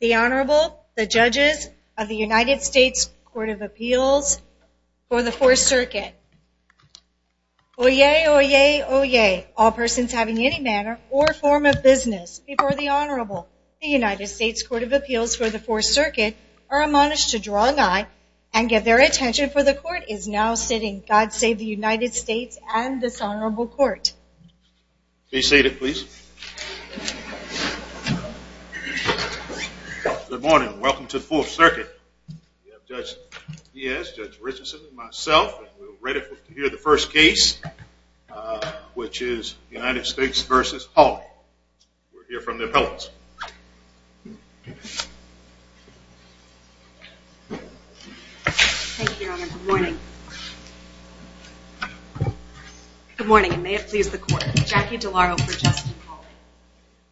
The Honorable, the Judges of the United States Court of Appeals for the Fourth Circuit. Oyez, oyez, oyez, all persons having any manner or form of business before the Honorable. The United States Court of Appeals for the Fourth Circuit are admonished to draw nigh and give their attention for the Court is now sitting, God save the United States and this Honorable Court. Please be seated please. Good morning and welcome to the Fourth Circuit. We have Judge Diaz, Judge Richardson and myself and we're ready to hear the first case which is United States v. Hawley. We'll hear from the appellants. Thank you, Your Honor. Good morning. Good morning and may it please the Court. Jackie DeLauro for Justin Hawley.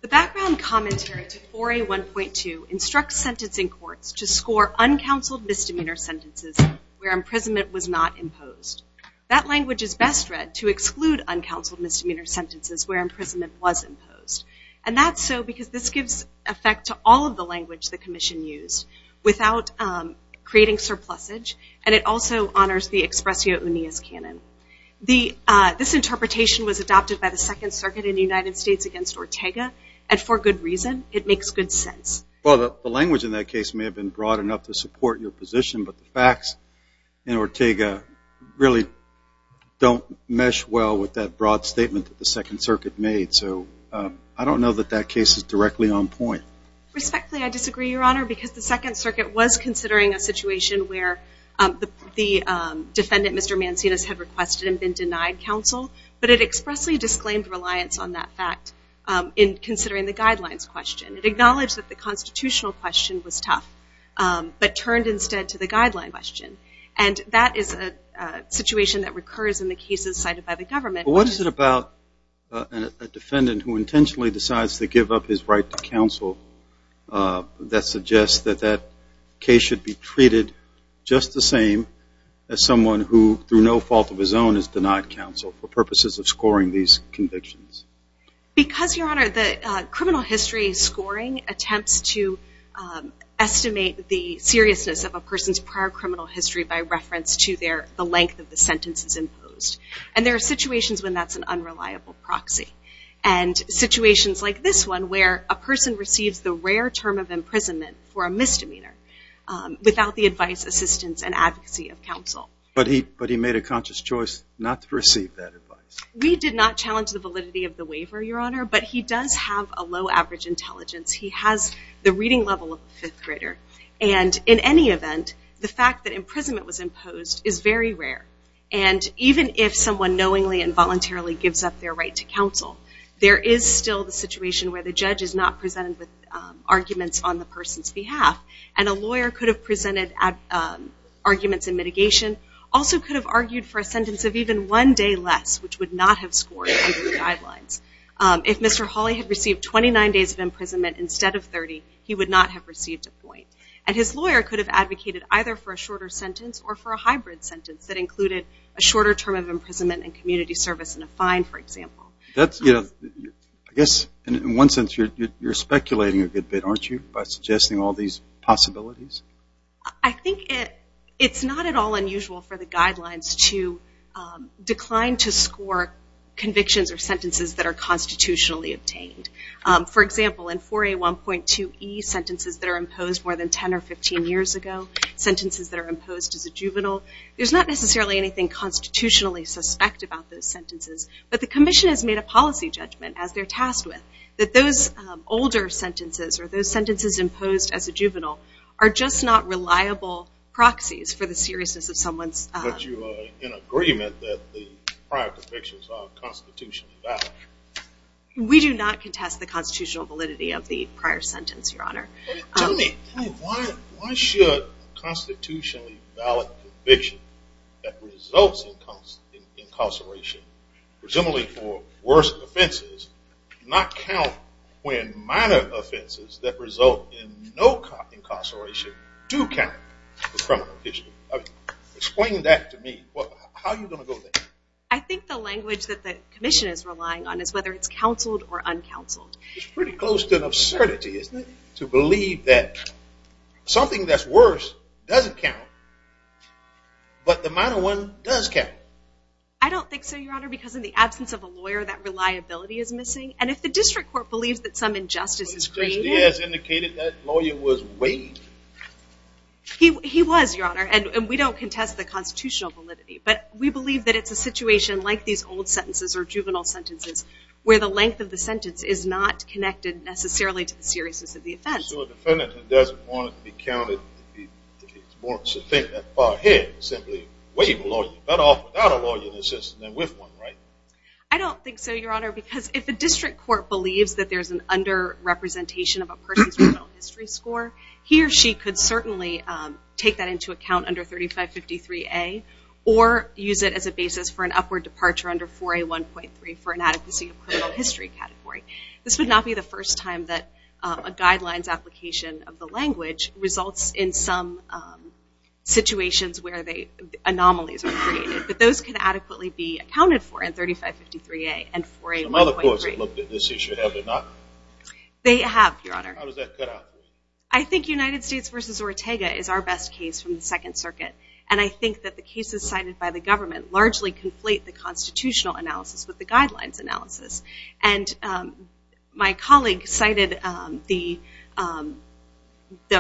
The background commentary to 4A1.2 instructs sentencing courts to score uncounseled misdemeanor sentences where imprisonment was not imposed. That language is best read to exclude uncounseled misdemeanor sentences where imprisonment was imposed. And that's so because this gives effect to all of the language the Commission used without creating surplusage and it also honors the Expressio Uneas Canon. This interpretation was adopted by the Second Circuit in the United States against Ortega and for good reason. It makes good sense. Well, the language in that case may have been broad enough to support your position, but the facts in Ortega really don't mesh well with that broad statement that the Second Circuit made. So I don't know that that case is directly on point. Respectfully, I disagree, Your Honor, because the Second Circuit was considering a situation where the defendant, Mr. Mancinas, had requested and been denied counsel, but it expressly disclaimed reliance on that fact in considering the guidelines question. It acknowledged that the constitutional question was tough, but turned instead to the guideline question. And that is a situation that recurs in the cases cited by the government. What is it about a defendant who intentionally decides to give up his right to counsel that suggests that that case should be treated just the same as someone who, through no fault of his own, is denied counsel for purposes of scoring these convictions? Because, Your Honor, the criminal history scoring attempts to estimate the seriousness of a person's prior criminal history by reference to the length of the sentences imposed. And there are situations when that's an unreliable proxy. And situations like this one, where a person receives the rare term of imprisonment for a misdemeanor without the advice, assistance, and advocacy of counsel. But he made a conscious choice not to receive that advice. We did not challenge the validity of the waiver, Your Honor, but he does have a low average intelligence. He has the reading level of the fifth grader. And in any event, the fact that imprisonment was imposed is very rare. And even if someone knowingly and voluntarily gives up their right to counsel, there is still the situation where the judge is not presented with arguments on the person's behalf. And a lawyer could have presented arguments in mitigation, also could have argued for a sentence of even one day less, which would not have scored under the guidelines. If Mr. Hawley had received 29 days of imprisonment instead of 30, he would not have received a point. And his lawyer could have advocated either for a shorter sentence or for a hybrid sentence that included a shorter term of imprisonment and community service and a fine, for example. I guess in one sense you're speculating a good bit, aren't you, by suggesting all these possibilities? I think it's not at all unusual for the guidelines to decline to score convictions or sentences that are constitutionally obtained. For example, in 4A1.2E, sentences that are imposed more than 10 or 15 years ago, sentences that are imposed as a juvenile, there's not necessarily anything constitutionally suspect about those sentences. But the commission has made a policy judgment as they're tasked with that those older sentences or those sentences imposed as a juvenile are just not reliable proxies for the seriousness of someone's... But you are in agreement that the prior convictions are constitutionally valid. We do not contest the constitutional validity of the prior sentence, Your Honor. Tell me, why should constitutionally valid convictions that result in incarceration, presumably for worse offenses, not count when minor offenses that result in no incarceration do count? Explain that to me. How are you going to go there? I think the language that the commission is relying on is whether it's counseled or uncounseled. It's pretty close to an absurdity, isn't it, to believe that something that's worse doesn't count, but the minor one does count. I don't think so, Your Honor, because in the absence of a lawyer, that reliability is missing. And if the district court believes that some injustice is created... Justice Diaz indicated that lawyer was waived. He was, Your Honor, and we don't contest the constitutional validity. But we believe that it's a situation like these old sentences or juvenile sentences where the length of the sentence is not connected necessarily to the seriousness of the offense. So a defendant who doesn't want it to be counted, wants to think that far ahead, simply waive a lawyer, better off without a lawyer than with one, right? I don't think so, Your Honor, because if a district court believes that there's an under-representation of a person's juvenile history score, he or she could certainly take that into account under 3553A or use it as a basis for an upward departure under 4A1.3 for an adequacy of criminal history category. This would not be the first time that a guidelines application of the language results in some situations where anomalies are created. But those can adequately be accounted for in 3553A and 4A1.3. Some other courts have looked at this issue, have they not? They have, Your Honor. How does that cut out for you? I think United States v. Ortega is our best case from the Second Circuit, and I think that the cases cited by the government largely conflate the constitutional analysis with the guidelines analysis. And my colleague cited the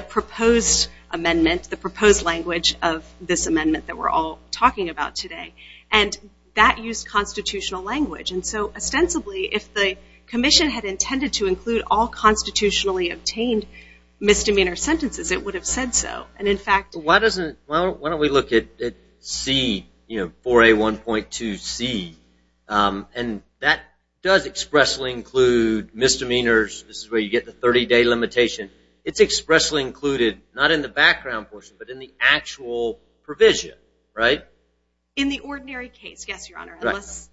proposed amendment, the proposed language of this amendment that we're all talking about today, and that used constitutional language. And so ostensibly, if the commission had intended to include all constitutionally obtained misdemeanor sentences, it would have said so. Why don't we look at 4A1.2C, and that does expressly include misdemeanors. This is where you get the 30-day limitation. It's expressly included, not in the background portion, but in the actual provision, right? In the ordinary case, yes, Your Honor.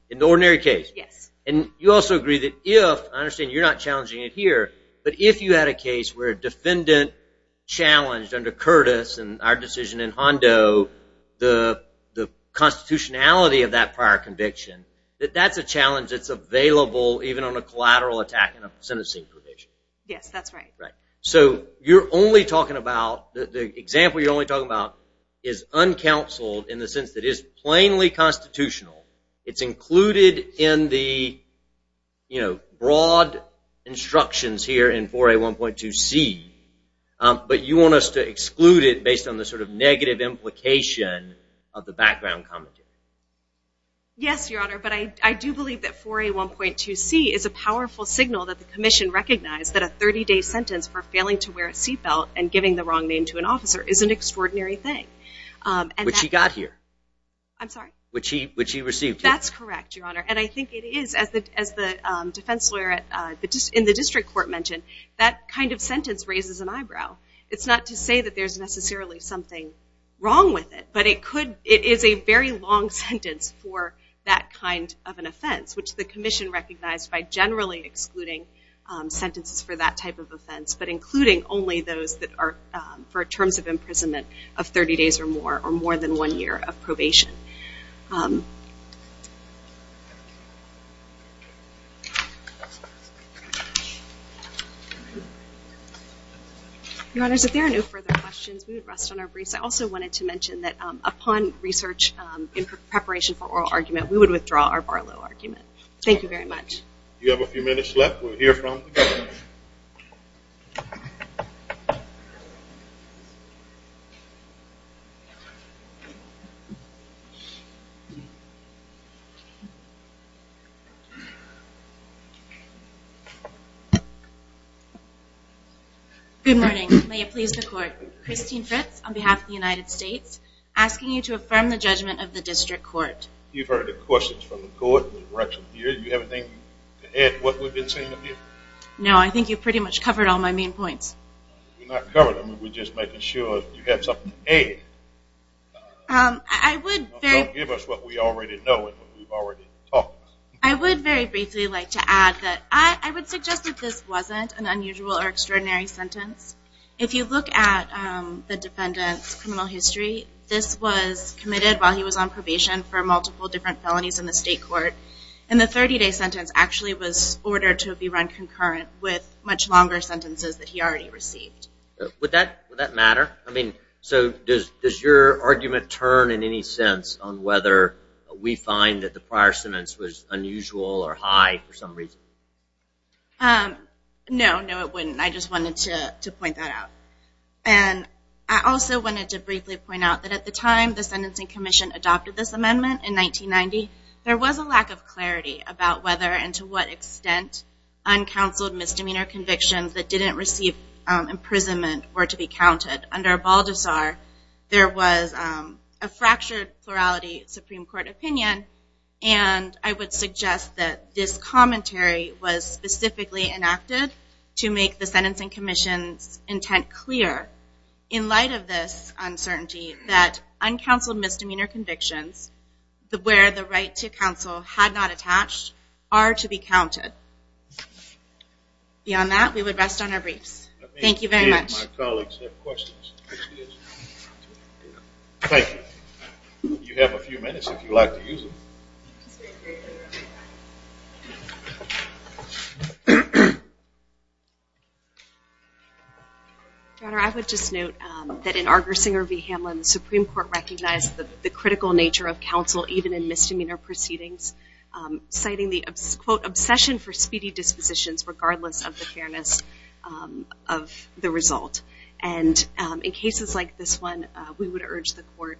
In the ordinary case. Yes. And you also agree that if, I understand you're not challenging it here, but if you had a case where a defendant challenged under Curtis and our decision in Hondo the constitutionality of that prior conviction, that that's a challenge that's available even on a collateral attack in a sentencing provision. Yes, that's right. Right. So you're only talking about, the example you're only talking about is uncounseled in the sense that it is plainly constitutional. It's included in the, you know, broad instructions here in 4A1.2C, but you want us to exclude it based on the sort of negative implication of the background commentary. Yes, Your Honor, but I do believe that 4A1.2C is a powerful signal that the commission recognized that a 30-day sentence for failing to wear a seatbelt and giving the wrong name to an officer is an extraordinary thing. Which he got here. I'm sorry? Which he received here. That's correct, Your Honor, and I think it is, as the defense lawyer in the district court mentioned, that kind of sentence raises an eyebrow. It's not to say that there's necessarily something wrong with it, but it is a very long sentence for that kind of an offense, which the commission recognized by generally excluding sentences for that type of offense, but including only those that are for terms of imprisonment of 30 days or more, or more than one year of probation. Your Honors, if there are no further questions, we would rest on our briefs. I also wanted to mention that upon research in preparation for oral argument, we would withdraw our Barlow argument. Thank you very much. You have a few minutes left. We'll hear from you. Good morning. May it please the court. Christine Fritz on behalf of the United States, asking you to affirm the judgment of the district court. You've heard the questions from the court. Do you have anything to add to what we've been saying? No, I think you've pretty much covered all my main points. We're not covering them. We're just making sure you have something to add. Don't give us what we already know and what we've already talked about. I would very briefly like to add that I would suggest that this wasn't an unusual or extraordinary sentence. If you look at the defendant's criminal history, this was committed while he was on probation for multiple different felonies in the state court. And the 30-day sentence actually was ordered to be run concurrent with much longer sentences that he already received. Would that matter? I mean, so does your argument turn in any sense on whether we find that the prior sentence was unusual or high for some reason? No, no, it wouldn't. I just wanted to point that out. And I also wanted to briefly point out that at the time the Sentencing Commission adopted this amendment in 1990, there was a lack of clarity about whether and to what extent uncounseled misdemeanor convictions that didn't receive imprisonment were to be counted. Under Baldessar, there was a fractured plurality Supreme Court opinion, and I would suggest that this commentary was specifically enacted to make the in light of this uncertainty that uncounseled misdemeanor convictions where the right to counsel had not attached are to be counted. Beyond that, we would rest on our briefs. Thank you very much. My colleagues have questions. Thank you. You have a few minutes if you'd like to use them. I would just note that in Argersinger v. Hamlin, the Supreme Court recognized the critical nature of counsel even in misdemeanor proceedings, citing the, quote, obsession for speedy dispositions regardless of the fairness of the result. And in cases like this one, we would urge the court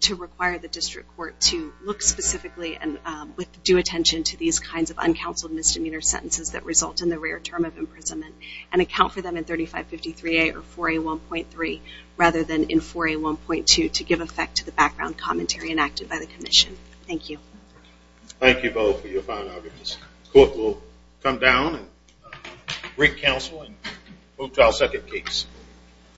to require the district court to look specifically and with due attention to these kinds of uncounseled misdemeanor sentences that result in the rare term of imprisonment and account for them in 3553A or 4A1.3 rather than in 4A1.2 to give effect to the background commentary enacted by the commission. Thank you. Thank you both for your fine arguments. The court will come down and bring counsel and move to our second case.